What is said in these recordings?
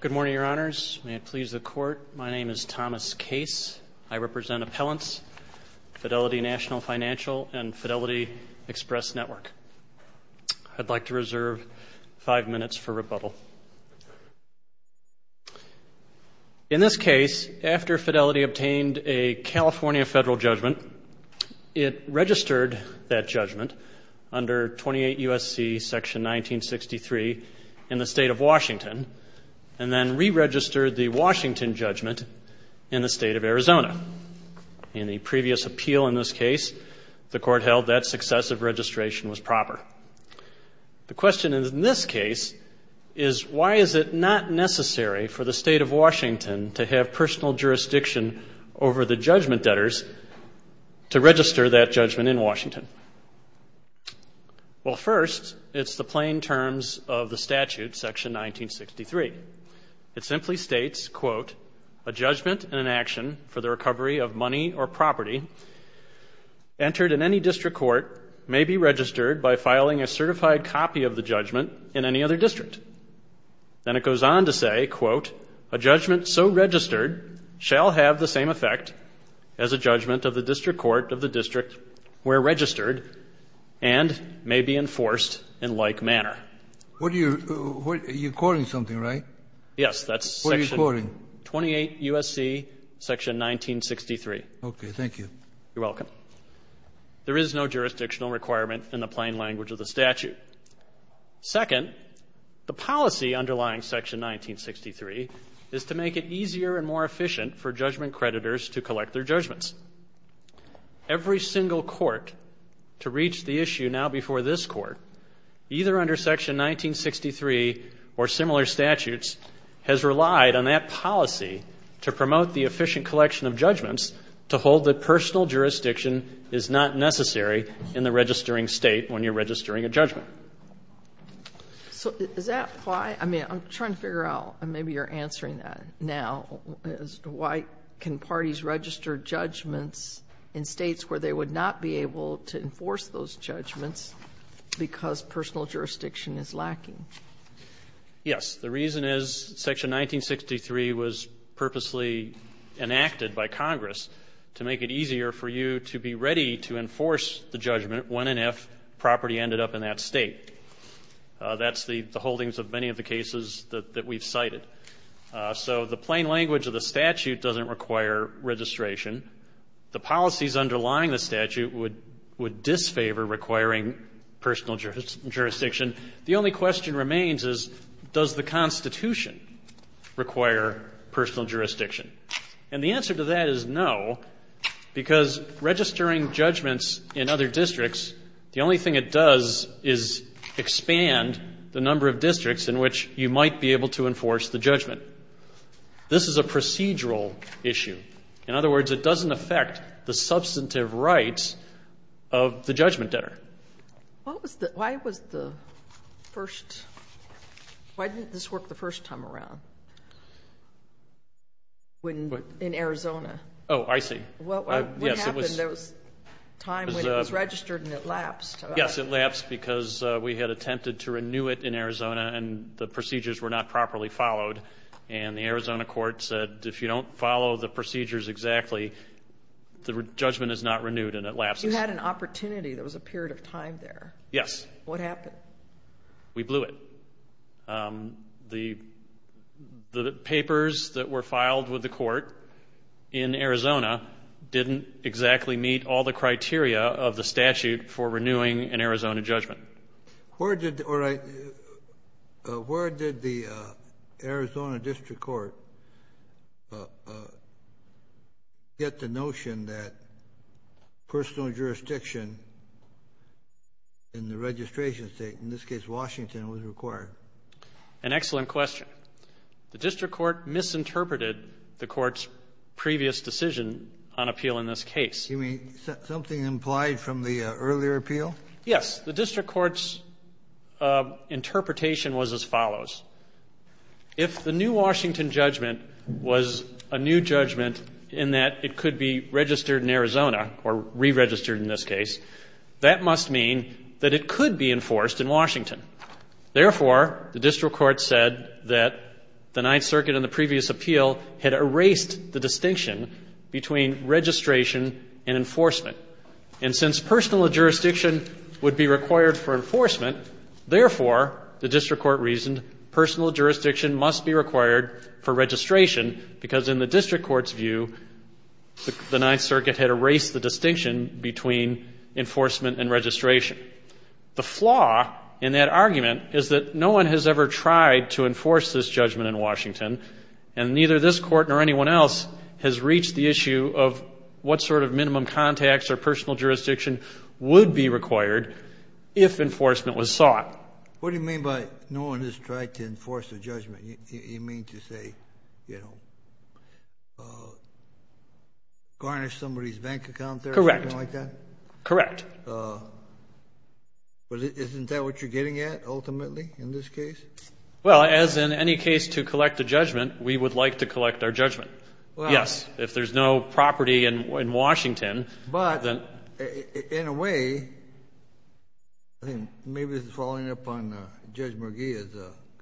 Good morning, Your Honors. May it please the Court, my name is Thomas Case. I represent Appellants, Fidelity National Financial, and Fidelity Express Network. I'd like to reserve five minutes for rebuttal. In this case, after Fidelity obtained a California federal judgment, it registered that judgment under 28 U.S.C. section 1963 in the state of Washington and then re-registered the Washington judgment in the state of Arizona. In the previous appeal in this case, the Court held that successive registration was proper. The question in this case is why is it not necessary for the state of Washington to have personal jurisdiction over the judgment debtors to register that judgment in Washington? Well, first, it's the plain terms of the statute, section 1963. It simply states, quote, a judgment in an action for the recovery of money or property entered in any district court may be registered by filing a certified copy of the judgment in any other district. Then it goes on to say, quote, a judgment so registered shall have the same effect as a judgment of the district court of the district where registered and may be enforced in like manner. What are you, you're quoting something, right? Yes, that's section. What are you quoting? 28 U.S.C. section 1963. Okay, thank you. You're welcome. There is no jurisdictional requirement in the plain language of the statute. Second, the policy underlying section 1963 is to make it easier and more efficient for judgment creditors to collect their judgments. Every single court to reach the issue now before this court, either under section 1963 or similar statutes, has relied on that policy to promote the efficient collection of judgments to hold that personal jurisdiction is not necessary in the registering state when you're registering a judgment. So is that why? I mean, I'm trying to figure out, and maybe you're answering that now, is why can parties register judgments in states where they would not be able to enforce those judgments because personal jurisdiction is lacking? Yes, the reason is section 1963 was purposely enacted by Congress to make it easier for you to be ready to enforce the judgment when and if property ended up in that state. That's the holdings of many of the cases that we've cited. So the plain language of the statute doesn't require registration. The policies underlying the statute would disfavor requiring personal jurisdiction. The only question remains is, does the Constitution require personal jurisdiction? And the answer to that is no, because registering judgments in other districts, the only thing it does is expand the number of districts in which you might be able to enforce the judgment. This is a procedural issue. In other words, it doesn't affect the substantive rights of the judgment debtor. Why didn't this work the first time around in Arizona? Oh, I see. What happened? There was a time when it was registered and it lapsed. Yes, it lapsed because we had attempted to renew it in Arizona, and the procedures were not properly followed, and the Arizona court said if you don't follow the procedures exactly, the judgment is not renewed and it lapses. You had an opportunity. There was a period of time there. Yes. What happened? We blew it. The papers that were filed with the court in Arizona didn't exactly meet all the criteria of the statute for renewing an Arizona judgment. Where did the Arizona district court get the notion that personal jurisdiction in the registration state, in this case Washington, was required? An excellent question. The district court misinterpreted the court's previous decision on appeal in this case. You mean something implied from the earlier appeal? Yes. The district court's interpretation was as follows. If the new Washington judgment was a new judgment in that it could be registered in Arizona, or re-registered in this case, that must mean that it could be enforced in Washington. Therefore, the district court said that the Ninth Circuit in the previous appeal had erased the distinction between registration and enforcement. And since personal jurisdiction would be required for enforcement, therefore, the district court reasoned personal jurisdiction must be required for registration because in the district court's view the Ninth Circuit had erased the distinction between enforcement and registration. The flaw in that argument is that no one has ever tried to enforce this judgment in Washington, and neither this court nor anyone else has reached the issue of what sort of minimum contacts or personal jurisdiction would be required if enforcement was sought. What do you mean by no one has tried to enforce the judgment? You mean to say, you know, garnish somebody's bank account there or something like that? Correct. Correct. Isn't that what you're getting at ultimately in this case? Well, as in any case to collect a judgment, we would like to collect our judgment. Yes, if there's no property in Washington. But in a way, maybe following up on Judge McGee's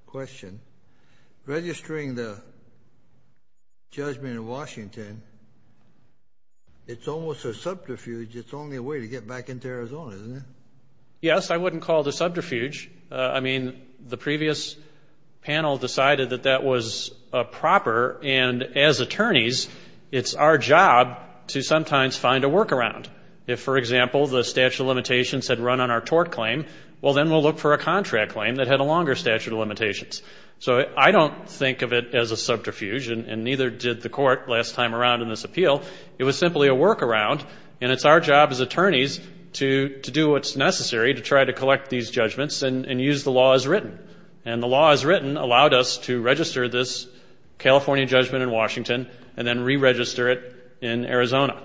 question, registering the judgment in Washington, it's almost a subterfuge. It's the only way to get back into Arizona, isn't it? Yes, I wouldn't call it a subterfuge. I mean, the previous panel decided that that was proper, and as attorneys it's our job to sometimes find a workaround. If, for example, the statute of limitations had run on our tort claim, well then we'll look for a contract claim that had a longer statute of limitations. So I don't think of it as a subterfuge, and neither did the court last time around in this appeal. It was simply a workaround, and it's our job as attorneys to do what's necessary to try to collect these judgments and use the law as written. And the law as written allowed us to register this California judgment in Washington and then re-register it in Arizona.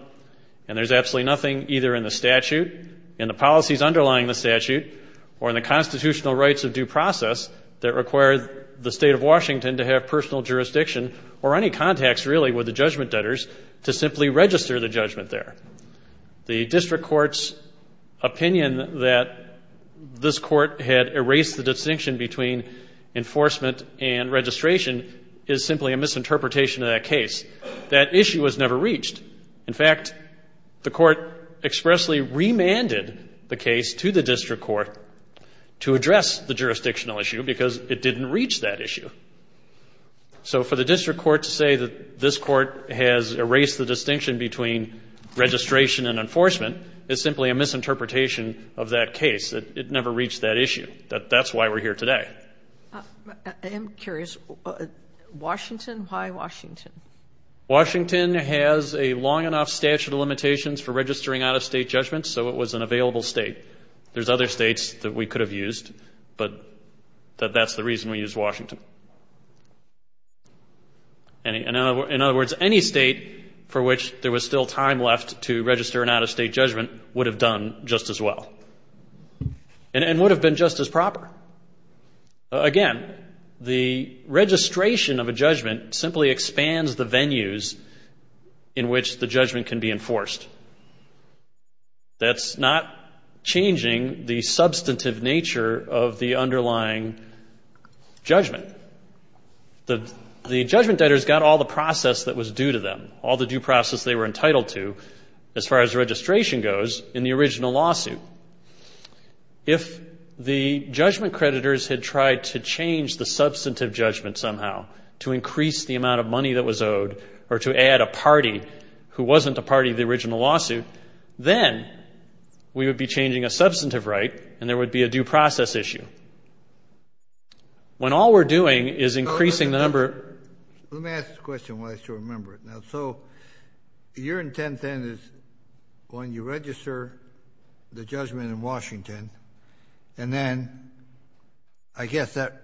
And there's absolutely nothing either in the statute, in the policies underlying the statute, or in the constitutional rights of due process that require the State of Washington to have personal jurisdiction or any contacts really with the judgment debtors to simply register the judgment there. The district court's opinion that this court had erased the distinction between enforcement and registration is simply a misinterpretation of that case. That issue was never reached. In fact, the court expressly remanded the case to the district court to address the jurisdictional issue because it didn't reach that issue. So for the district court to say that this court has erased the distinction between registration and enforcement is simply a misinterpretation of that case. It never reached that issue. That's why we're here today. I'm curious. Washington? Why Washington? Washington has a long enough statute of limitations for registering out-of-state judgments, so it was an available state. There's other states that we could have used, but that's the reason we used Washington. In other words, any state for which there was still time left to register an out-of-state judgment would have done just as well and would have been just as proper. Again, the registration of a judgment simply expands the venues in which the judgment can be enforced. That's not changing the substantive nature of the underlying judgment. The judgment debtors got all the process that was due to them, all the due process they were entitled to as far as registration goes in the original lawsuit. If the judgment creditors had tried to change the substantive judgment somehow, to increase the amount of money that was owed or to add a party who wasn't a party to the original lawsuit, then we would be changing a substantive right and there would be a due process issue. When all we're doing is increasing the number of... Let me ask a question while I still remember it. So your intent then is when you register the judgment in Washington, and then I guess that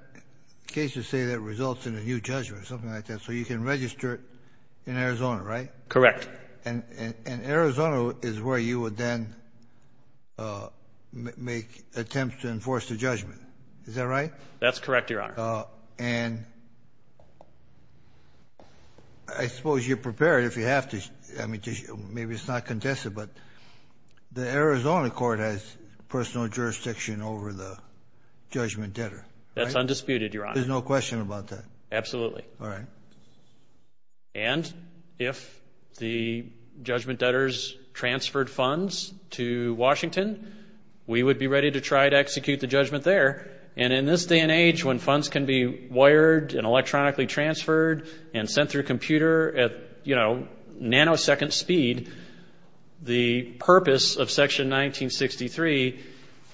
case would say that results in a new judgment or something like that, so you can register it in Arizona, right? Correct. And Arizona is where you would then make attempts to enforce the judgment. Is that right? That's correct, Your Honor. And I suppose you're prepared if you have to. Maybe it's not contested, but the Arizona court has personal jurisdiction over the judgment debtor. That's undisputed, Your Honor. There's no question about that. Absolutely. All right. And if the judgment debtors transferred funds to Washington, we would be ready to try to execute the judgment there. And in this day and age when funds can be wired and electronically transferred and sent through a computer at nanosecond speed, the purpose of Section 1963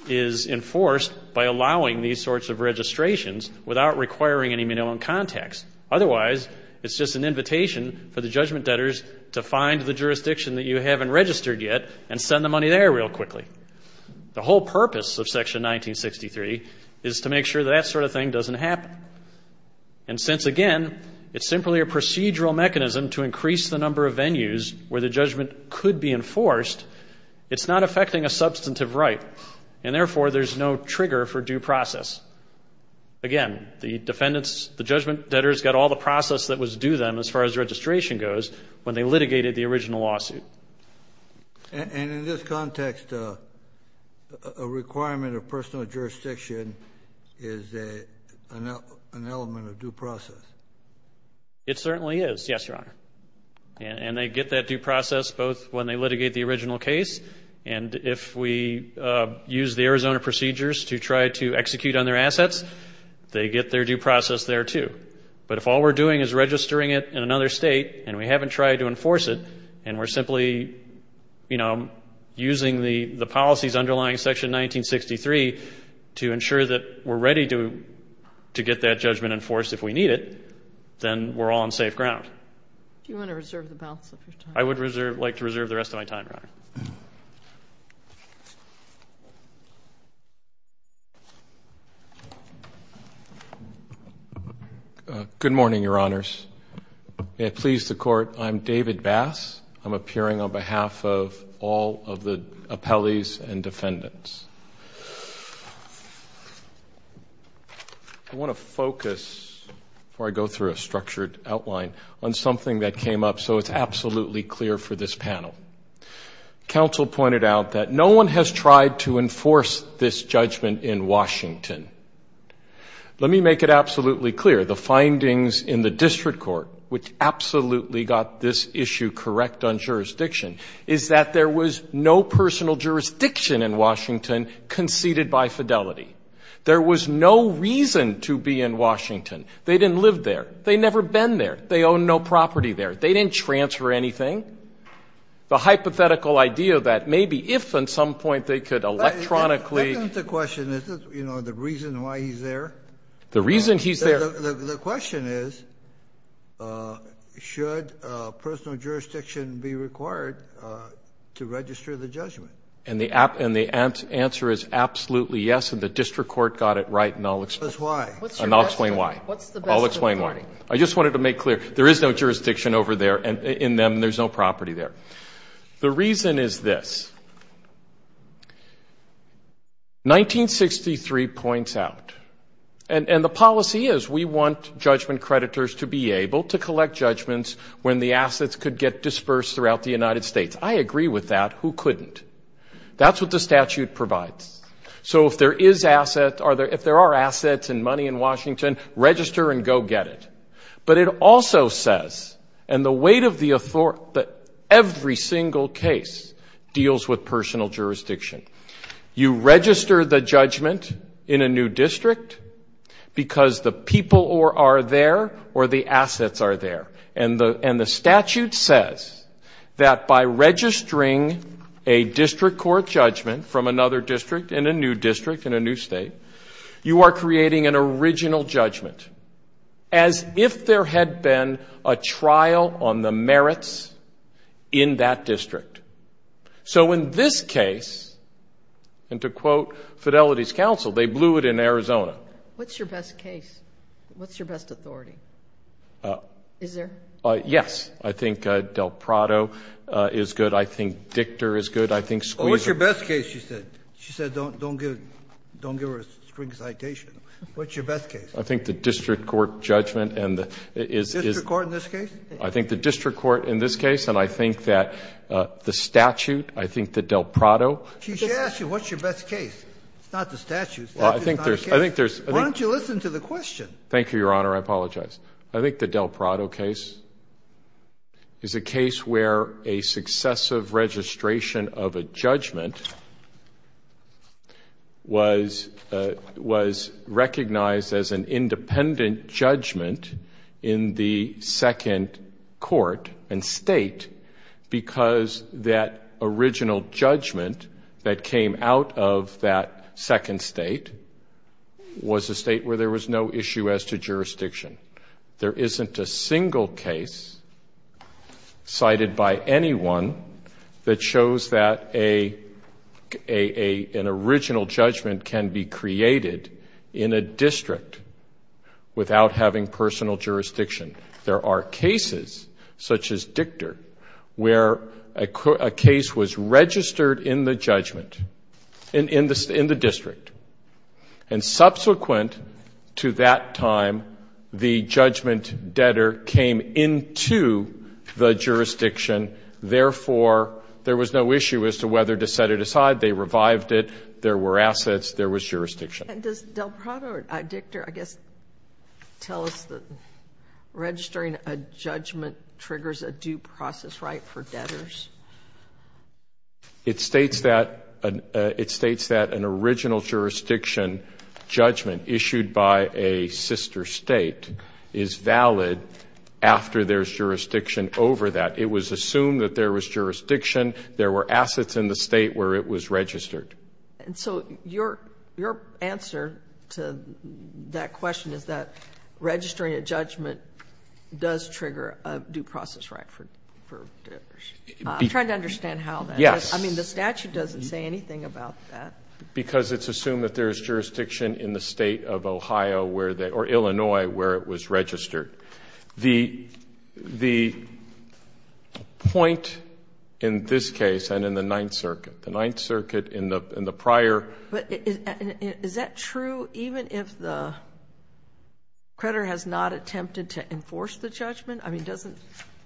is enforced by allowing these sorts of registrations without requiring any minimum contacts. Otherwise, it's just an invitation for the judgment debtors to find the jurisdiction that you haven't registered yet and send the money there real quickly. The whole purpose of Section 1963 is to make sure that that sort of thing doesn't happen. And since, again, it's simply a procedural mechanism to increase the number of venues where the judgment could be enforced, it's not affecting a substantive right, and therefore there's no trigger for due process. Again, the judgment debtors got all the process that was due them as far as registration goes when they litigated the original lawsuit. And in this context, a requirement of personal jurisdiction is an element of due process. It certainly is, yes, Your Honor. And they get that due process both when they litigate the original case and if we use the Arizona procedures to try to execute on their assets, they get their due process there too. But if all we're doing is registering it in another state and we haven't tried to enforce it and we're simply, you know, using the policies underlying Section 1963 to ensure that we're ready to get that judgment enforced if we need it, then we're all on safe ground. Do you want to reserve the balance of your time? I would like to reserve the rest of my time, Your Honor. Good morning, Your Honors. May it please the Court, I'm David Bass. I'm appearing on behalf of all of the appellees and defendants. I want to focus, before I go through a structured outline, on something that came up so it's absolutely clear for this panel. Counsel pointed out that no one has tried to enforce this judgment in Washington. Let me make it absolutely clear. The findings in the district court, which absolutely got this issue correct on jurisdiction, is that there was no personal jurisdiction in Washington conceded by fidelity. There was no reason to be in Washington. They didn't live there. They never been there. They own no property there. They didn't transfer anything. The hypothetical idea that maybe if at some point they could electronically ---- The reason why he's there? The reason he's there. The question is, should personal jurisdiction be required to register the judgment? And the answer is absolutely yes, and the district court got it right, and I'll explain why. I just wanted to make clear. There is no jurisdiction over there in them. There's no property there. The reason is this. 1963 points out, and the policy is we want judgment creditors to be able to collect judgments when the assets could get dispersed throughout the United States. I agree with that. Who couldn't? That's what the statute provides. So if there are assets and money in Washington, register and go get it. But it also says, and the weight of the authority, that every single case deals with personal jurisdiction. You register the judgment in a new district because the people are there or the assets are there. And the statute says that by registering a district court judgment from another district, in a new district, in a new state, you are creating an original judgment. As if there had been a trial on the merits in that district. So in this case, and to quote Fidelity's counsel, they blew it in Arizona. What's your best case? What's your best authority? Is there? Yes. I think Del Prado is good. I think Dictor is good. I think Squeezer. What's your best case, she said. She said don't give her a string citation. What's your best case? I think the district court judgment is. District court in this case? I think the district court in this case, and I think that the statute, I think the Del Prado. She asked you what's your best case. It's not the statute. Well, I think there's. Why don't you listen to the question? Thank you, Your Honor. I apologize. I think the Del Prado case is a case where a successive registration of a judgment was recognized as an independent judgment in the second court and state because that original judgment that came out of that second state was a state where there was no issue as to jurisdiction. There isn't a single case cited by anyone that shows that an original judgment can be created in a district without having personal jurisdiction. There are cases such as Dictor where a case was registered in the judgment, in the district, and subsequent to that time, the judgment debtor came into the jurisdiction. Therefore, there was no issue as to whether to set it aside. They revived it. There was jurisdiction. And does Del Prado or Dictor, I guess, tell us that registering a judgment triggers a due process right for debtors? It states that an original jurisdiction judgment issued by a sister state is valid after there's jurisdiction over that. It was assumed that there was jurisdiction. There were assets in the state where it was registered. And so your answer to that question is that registering a judgment does trigger a due process right for debtors. I'm trying to understand how that is. Yes. I mean, the statute doesn't say anything about that. Because it's assumed that there is jurisdiction in the state of Ohio where they or Illinois where it was registered. The point in this case and in the Ninth Circuit, the Ninth Circuit in the prior. But is that true even if the creditor has not attempted to enforce the judgment? I mean, doesn't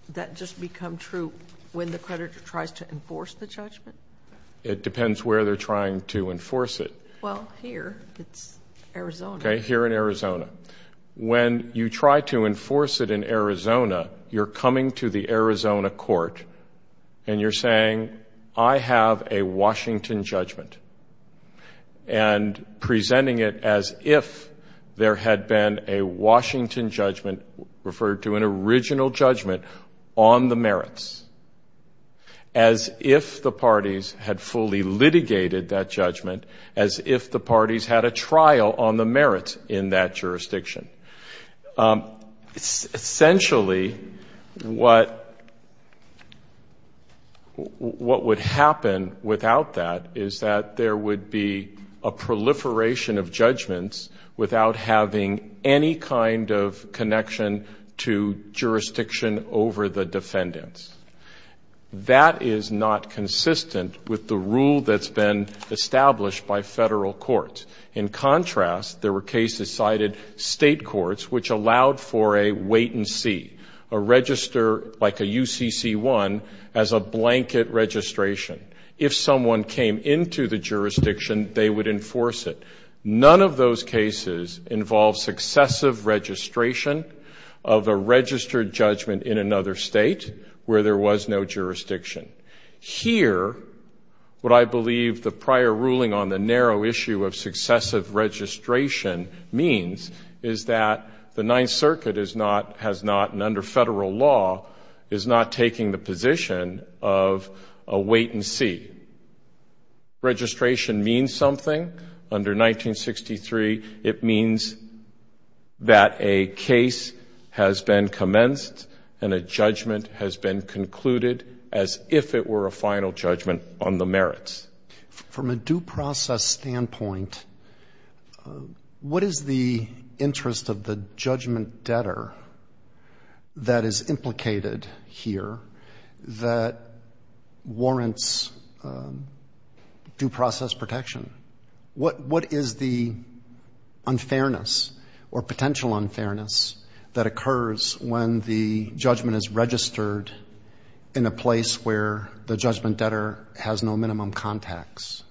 that just become true when the creditor tries to enforce the judgment? It depends where they're trying to enforce it. Well, here. It's Arizona. Okay, here in Arizona. When you try to enforce it in Arizona, you're coming to the Arizona court and you're saying, I have a Washington judgment, and presenting it as if there had been a Washington judgment, referred to an original judgment, on the merits, as if the parties had fully litigated that judgment, as if the parties had a trial on the merits in that jurisdiction. Essentially, what would happen without that is that there would be a proliferation of judgments without having any kind of connection to jurisdiction over the defendants. That is not consistent with the rule that's been established by federal courts. In contrast, there were cases cited state courts which allowed for a wait-and-see, a register like a UCC-1 as a blanket registration. If someone came into the jurisdiction, they would enforce it. None of those cases involve successive registration of a registered judgment in another state where there was no jurisdiction. Here, what I believe the prior ruling on the narrow issue of successive registration means is that the Ninth Circuit has not, and under federal law, is not taking the position of a wait-and-see. Registration means something. Under 1963, it means that a case has been commenced and a judgment has been concluded as if it were a final judgment on the merits. From a due process standpoint, what is the interest of the judgment debtor that is implicated here that warrants due process protection? What is the unfairness or potential unfairness that occurs when the judgment is registered in a place where the judgment debtor has no minimum contacts?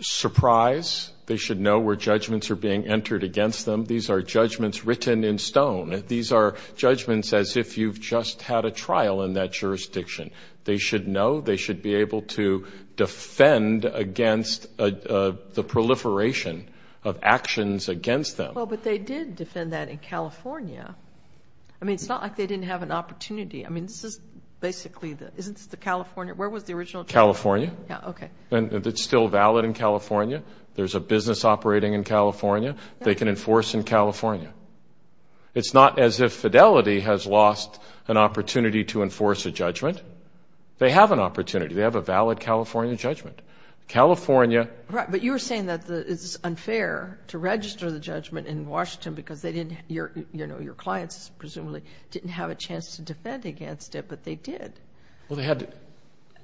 Surprise. They should know where judgments are being entered against them. These are judgments written in stone. These are judgments as if you've just had a trial in that jurisdiction. They should know. They should be able to defend against the proliferation of actions against them. Well, but they did defend that in California. I mean, it's not like they didn't have an opportunity. I mean, this is basically the, isn't this the California, where was the original trial? California. Yeah, okay. And it's still valid in California. There's a business operating in California. They can enforce in California. It's not as if Fidelity has lost an opportunity to enforce a judgment. They have an opportunity. They have a valid California judgment. California. Right, but you were saying that it's unfair to register the judgment in Washington because they didn't, you know, your clients presumably didn't have a chance to defend against it, but they did. Well, they had,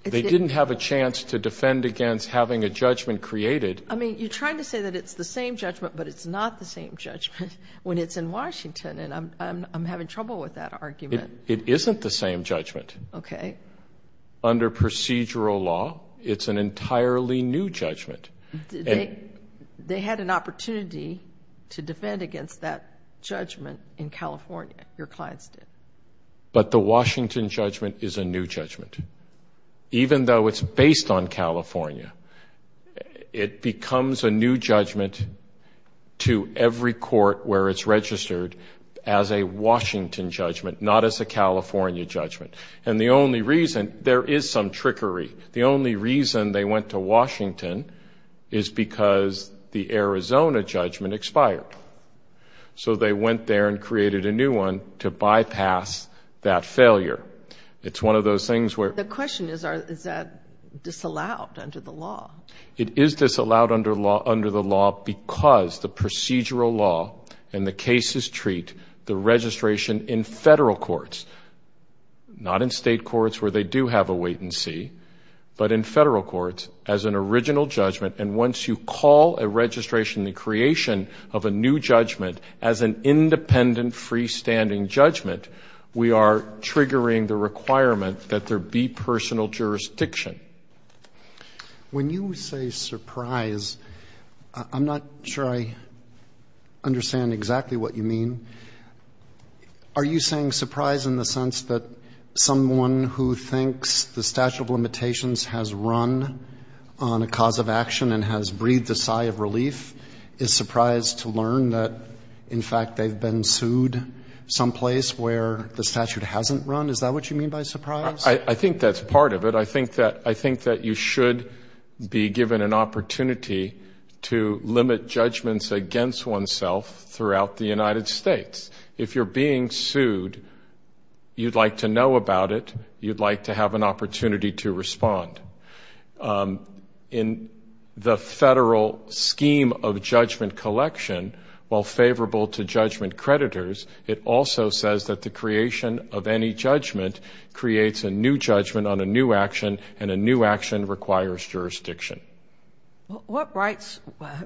they didn't have a chance to defend against having a judgment created. I mean, you're trying to say that it's the same judgment, but it's not the same judgment when it's in Washington, and I'm having trouble with that argument. It isn't the same judgment. Okay. Under procedural law, it's an entirely new judgment. They had an opportunity to defend against that judgment in California. Your clients did. But the Washington judgment is a new judgment. Even though it's based on California, it becomes a new judgment to every court where it's registered as a Washington judgment, not as a California judgment. And the only reason, there is some trickery, the only reason they went to Washington is because the Arizona judgment expired. So they went there and created a new one to bypass that failure. It's one of those things where — The question is, is that disallowed under the law? It is disallowed under the law because the procedural law and the cases treat the registration in federal courts, not in state courts where they do have a wait and see, but in federal courts as an original judgment. And once you call a registration, the creation of a new judgment, as an independent freestanding judgment, we are triggering the requirement that there be personal jurisdiction. When you say surprise, I'm not sure I understand exactly what you mean. Are you saying surprise in the sense that someone who thinks the statute of limitations has run on a cause of action and has breathed a sigh of relief is surprised to learn that, in fact, they've been sued someplace where the statute hasn't run? Is that what you mean by surprise? I think that's part of it. I think that you should be given an opportunity to limit judgments against oneself throughout the United States. If you're being sued, you'd like to know about it. You'd like to have an opportunity to respond. In the federal scheme of judgment collection, while favorable to judgment creditors, it also says that the creation of any judgment creates a new judgment on a new action, and a new action requires jurisdiction. What rights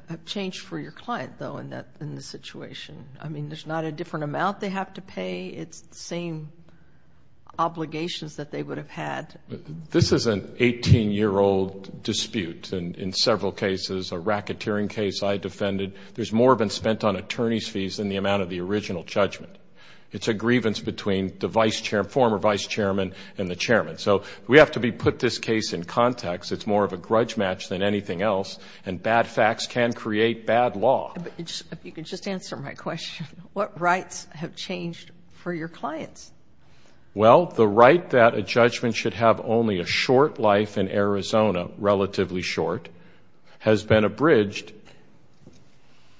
have changed for your client, though, in this situation? I mean, there's not a different amount they have to pay. It's the same obligations that they would have had. This is an 18-year-old dispute in several cases, a racketeering case I defended. There's more been spent on attorney's fees than the amount of the original judgment. It's a grievance between the former vice chairman and the chairman. So we have to put this case in context. It's more of a grudge match than anything else, and bad facts can create bad law. If you could just answer my question, what rights have changed for your clients? Well, the right that a judgment should have only a short life in Arizona, relatively short, has been abridged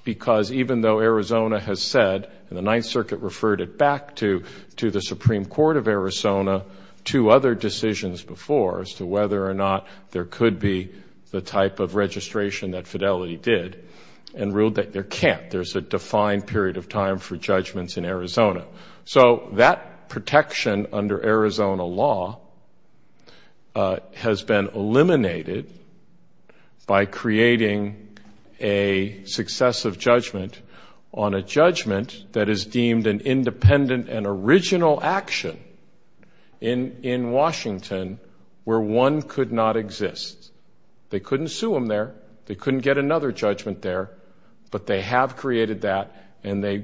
because even though Arizona has said, and the Ninth Circuit referred it back to the Supreme Court of Arizona, two other decisions before as to whether or not there could be the type of registration that Fidelity did, and ruled that there can't. So that protection under Arizona law has been eliminated by creating a successive judgment on a judgment that is deemed an independent and original action in Washington where one could not exist. They couldn't sue them there. They couldn't get another judgment there. But they have created that, and they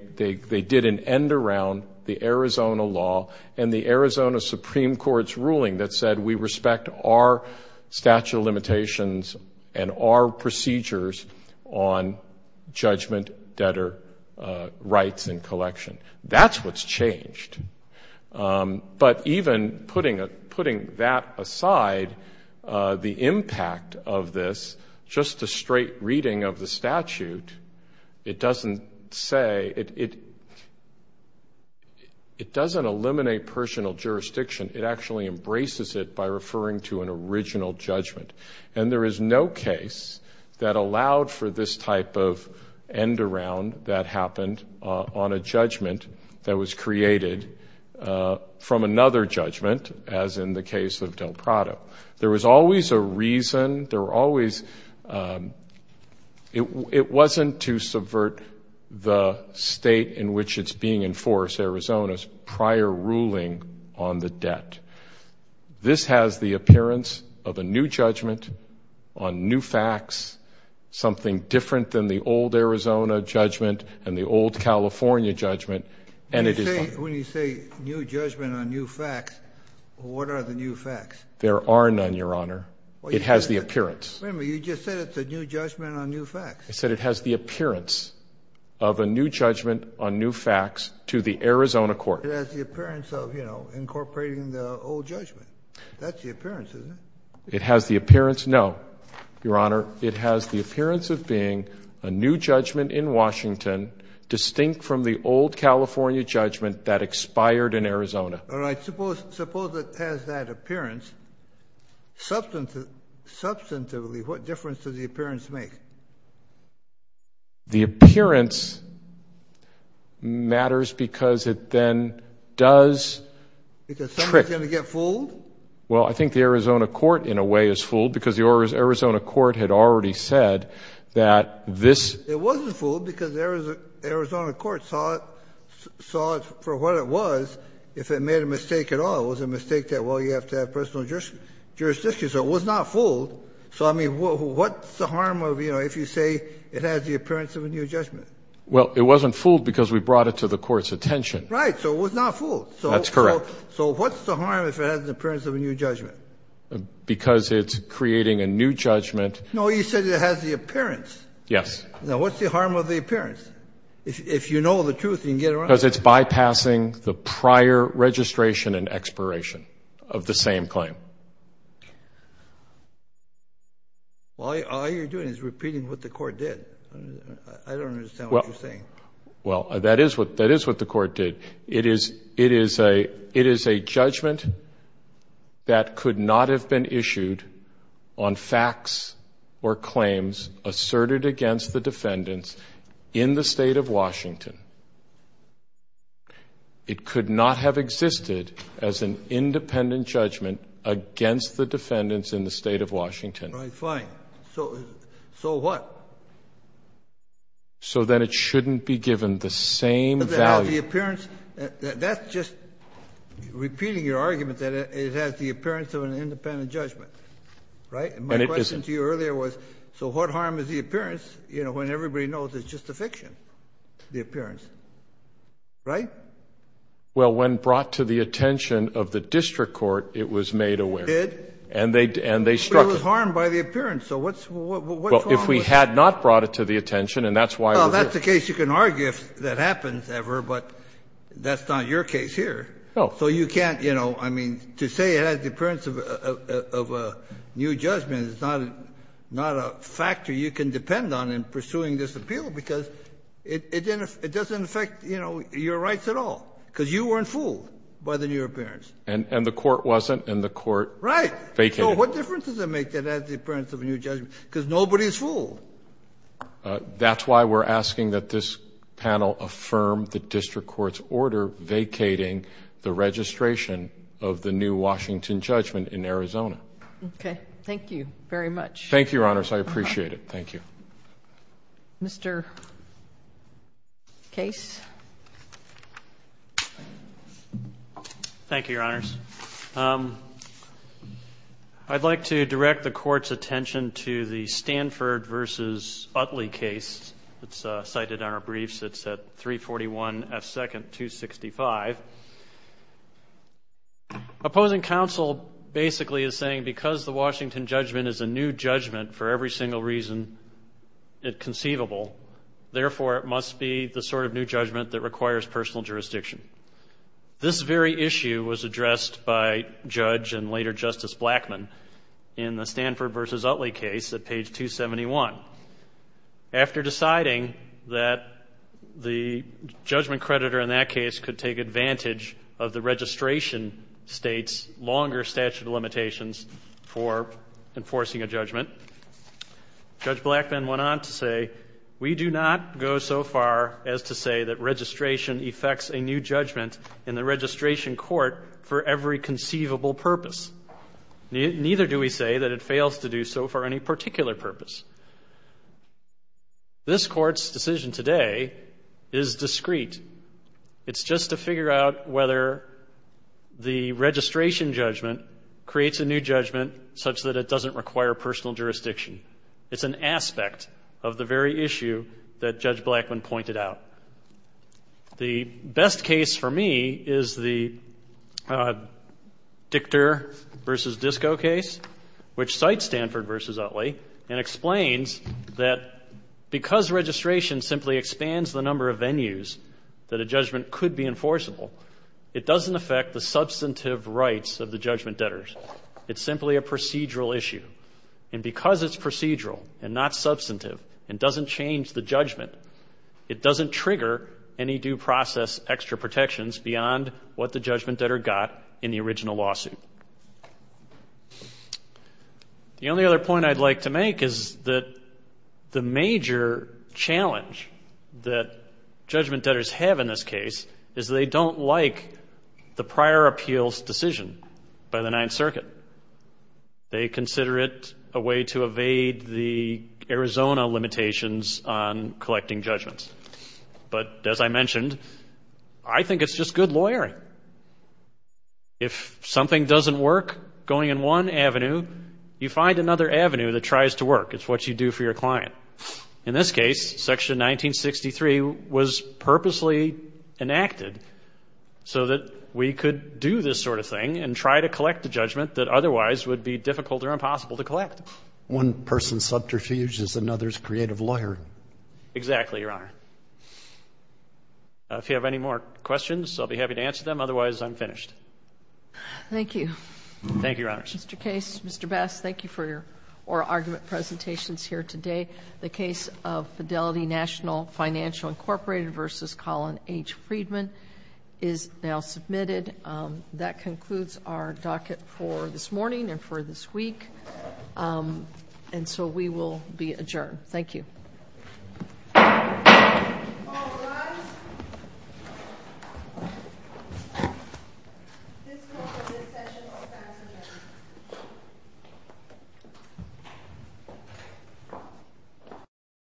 did an end around the Arizona law and the Arizona Supreme Court's ruling that said we respect our statute of limitations and our procedures on judgment debtor rights and collection. That's what's changed. But even putting that aside, the impact of this, just a straight reading of the statute, it doesn't say, it doesn't eliminate personal jurisdiction. It actually embraces it by referring to an original judgment. And there is no case that allowed for this type of end around that happened on a judgment that was created from another judgment, as in the case of Del Prado. There was always a reason, there were always, it wasn't to subvert the state in which it's being enforced, Arizona's prior ruling on the debt. This has the appearance of a new judgment on new facts, something different than the old Arizona judgment and the old California judgment. When you say new judgment on new facts, what are the new facts? There are none, Your Honor. It has the appearance. Wait a minute, you just said it's a new judgment on new facts. I said it has the appearance of a new judgment on new facts to the Arizona court. It has the appearance of incorporating the old judgment. That's the appearance, isn't it? It has the appearance, no. Your Honor, it has the appearance of being a new judgment in Washington, distinct from the old California judgment that expired in Arizona. All right. Suppose it has that appearance. Substantively, what difference does the appearance make? The appearance matters because it then does trick. Because somebody's going to get fooled? Well, I think the Arizona court, in a way, is fooled because the Arizona court had already said that this ---- It wasn't fooled because the Arizona court saw it for what it was. If it made a mistake at all, it was a mistake that, well, you have to have personal jurisdiction. So it was not fooled. So, I mean, what's the harm of, you know, if you say it has the appearance of a new judgment? Well, it wasn't fooled because we brought it to the court's attention. Right, so it was not fooled. That's correct. So what's the harm if it has the appearance of a new judgment? Because it's creating a new judgment. No, you said it has the appearance. Yes. Now, what's the harm of the appearance? If you know the truth, you can get around it. Because it's bypassing the prior registration and expiration of the same claim. All you're doing is repeating what the court did. I don't understand what you're saying. Well, that is what the court did. It is a judgment that could not have been issued on facts or claims asserted against the defendants in the State of Washington. It could not have existed as an independent judgment against the defendants in the State of Washington. Right, fine. So what? So then it shouldn't be given the same value. That's just repeating your argument that it has the appearance of an independent judgment. Right? And it isn't. My question to you earlier was, so what harm is the appearance when everybody knows it's just a fiction, the appearance? Right? Well, when brought to the attention of the district court, it was made aware. It did? And they struck it. But it was harmed by the appearance, so what's wrong with that? I mean, I guess you can argue if that happens ever, but that's not your case here. So you can't, you know, I mean, to say it has the appearance of a new judgment is not a factor you can depend on in pursuing this appeal, because it doesn't affect, you know, your rights at all, because you weren't fooled by the new appearance. And the court wasn't, and the court vacated. Right. So what difference does it make that it has the appearance of a new judgment? Because nobody's fooled. That's why we're asking that this panel affirm the district court's order vacating the registration of the new Washington judgment in Arizona. Okay. Thank you very much. Thank you, Your Honors. I appreciate it. Mr. Case? Thank you, Your Honors. I'd like to direct the court's attention to the Stanford v. Utley case that's cited on our briefs. It's at 341 F. 2nd, 265. Opposing counsel basically is saying because the Washington judgment is a new judgment for every single reason conceivable, therefore it must be the sort of new judgment that requires personal jurisdiction. This very issue was addressed by Judge and later Justice Blackmun in the Stanford v. Utley case at page 271. After deciding that the judgment creditor in that case could take advantage of the registration state's longer statute of limitations for enforcing a judgment, Judge Blackmun went on to say, We do not go so far as to say that registration effects a new judgment in the registration court for every conceivable purpose. Neither do we say that it fails to do so for any particular purpose. This court's decision today is discreet. It's just to figure out whether the registration judgment creates a new judgment such that it doesn't require personal jurisdiction. It's an aspect of the very issue that Judge Blackmun pointed out. The best case for me is the Dichter v. Disko case, which cites Stanford v. Utley and explains that because registration simply expands the number of venues that a judgment could be enforceable, it doesn't affect the substantive rights of the judgment debtors. It's simply a procedural issue. And because it's procedural and not substantive and doesn't change the judgment, it doesn't trigger any due process extra protections beyond what the judgment debtor got in the original lawsuit. The only other point I'd like to make is that the major challenge that judgment debtors have in this case is they don't like the prior appeals decision by the Ninth Circuit. They consider it a way to evade the Arizona limitations on collecting judgments. But as I mentioned, I think it's just good lawyering. If something doesn't work going in one avenue, you find another avenue that tries to work. It's what you do for your client. In this case, Section 1963 was purposely enacted so that we could do this sort of thing and try to collect a judgment that otherwise would be difficult or impossible to collect. One person's subterfuge is another's creative lawyer. Exactly, Your Honor. If you have any more questions, I'll be happy to answer them. Otherwise, I'm finished. Thank you. Thank you, Your Honor. Mr. Case, Mr. Bass, thank you for your oral argument presentations here today. The case of Fidelity National Financial Incorporated v. Colin H. Friedman is now submitted. That concludes our docket for this morning and for this week, and so we will be adjourned. Thank you.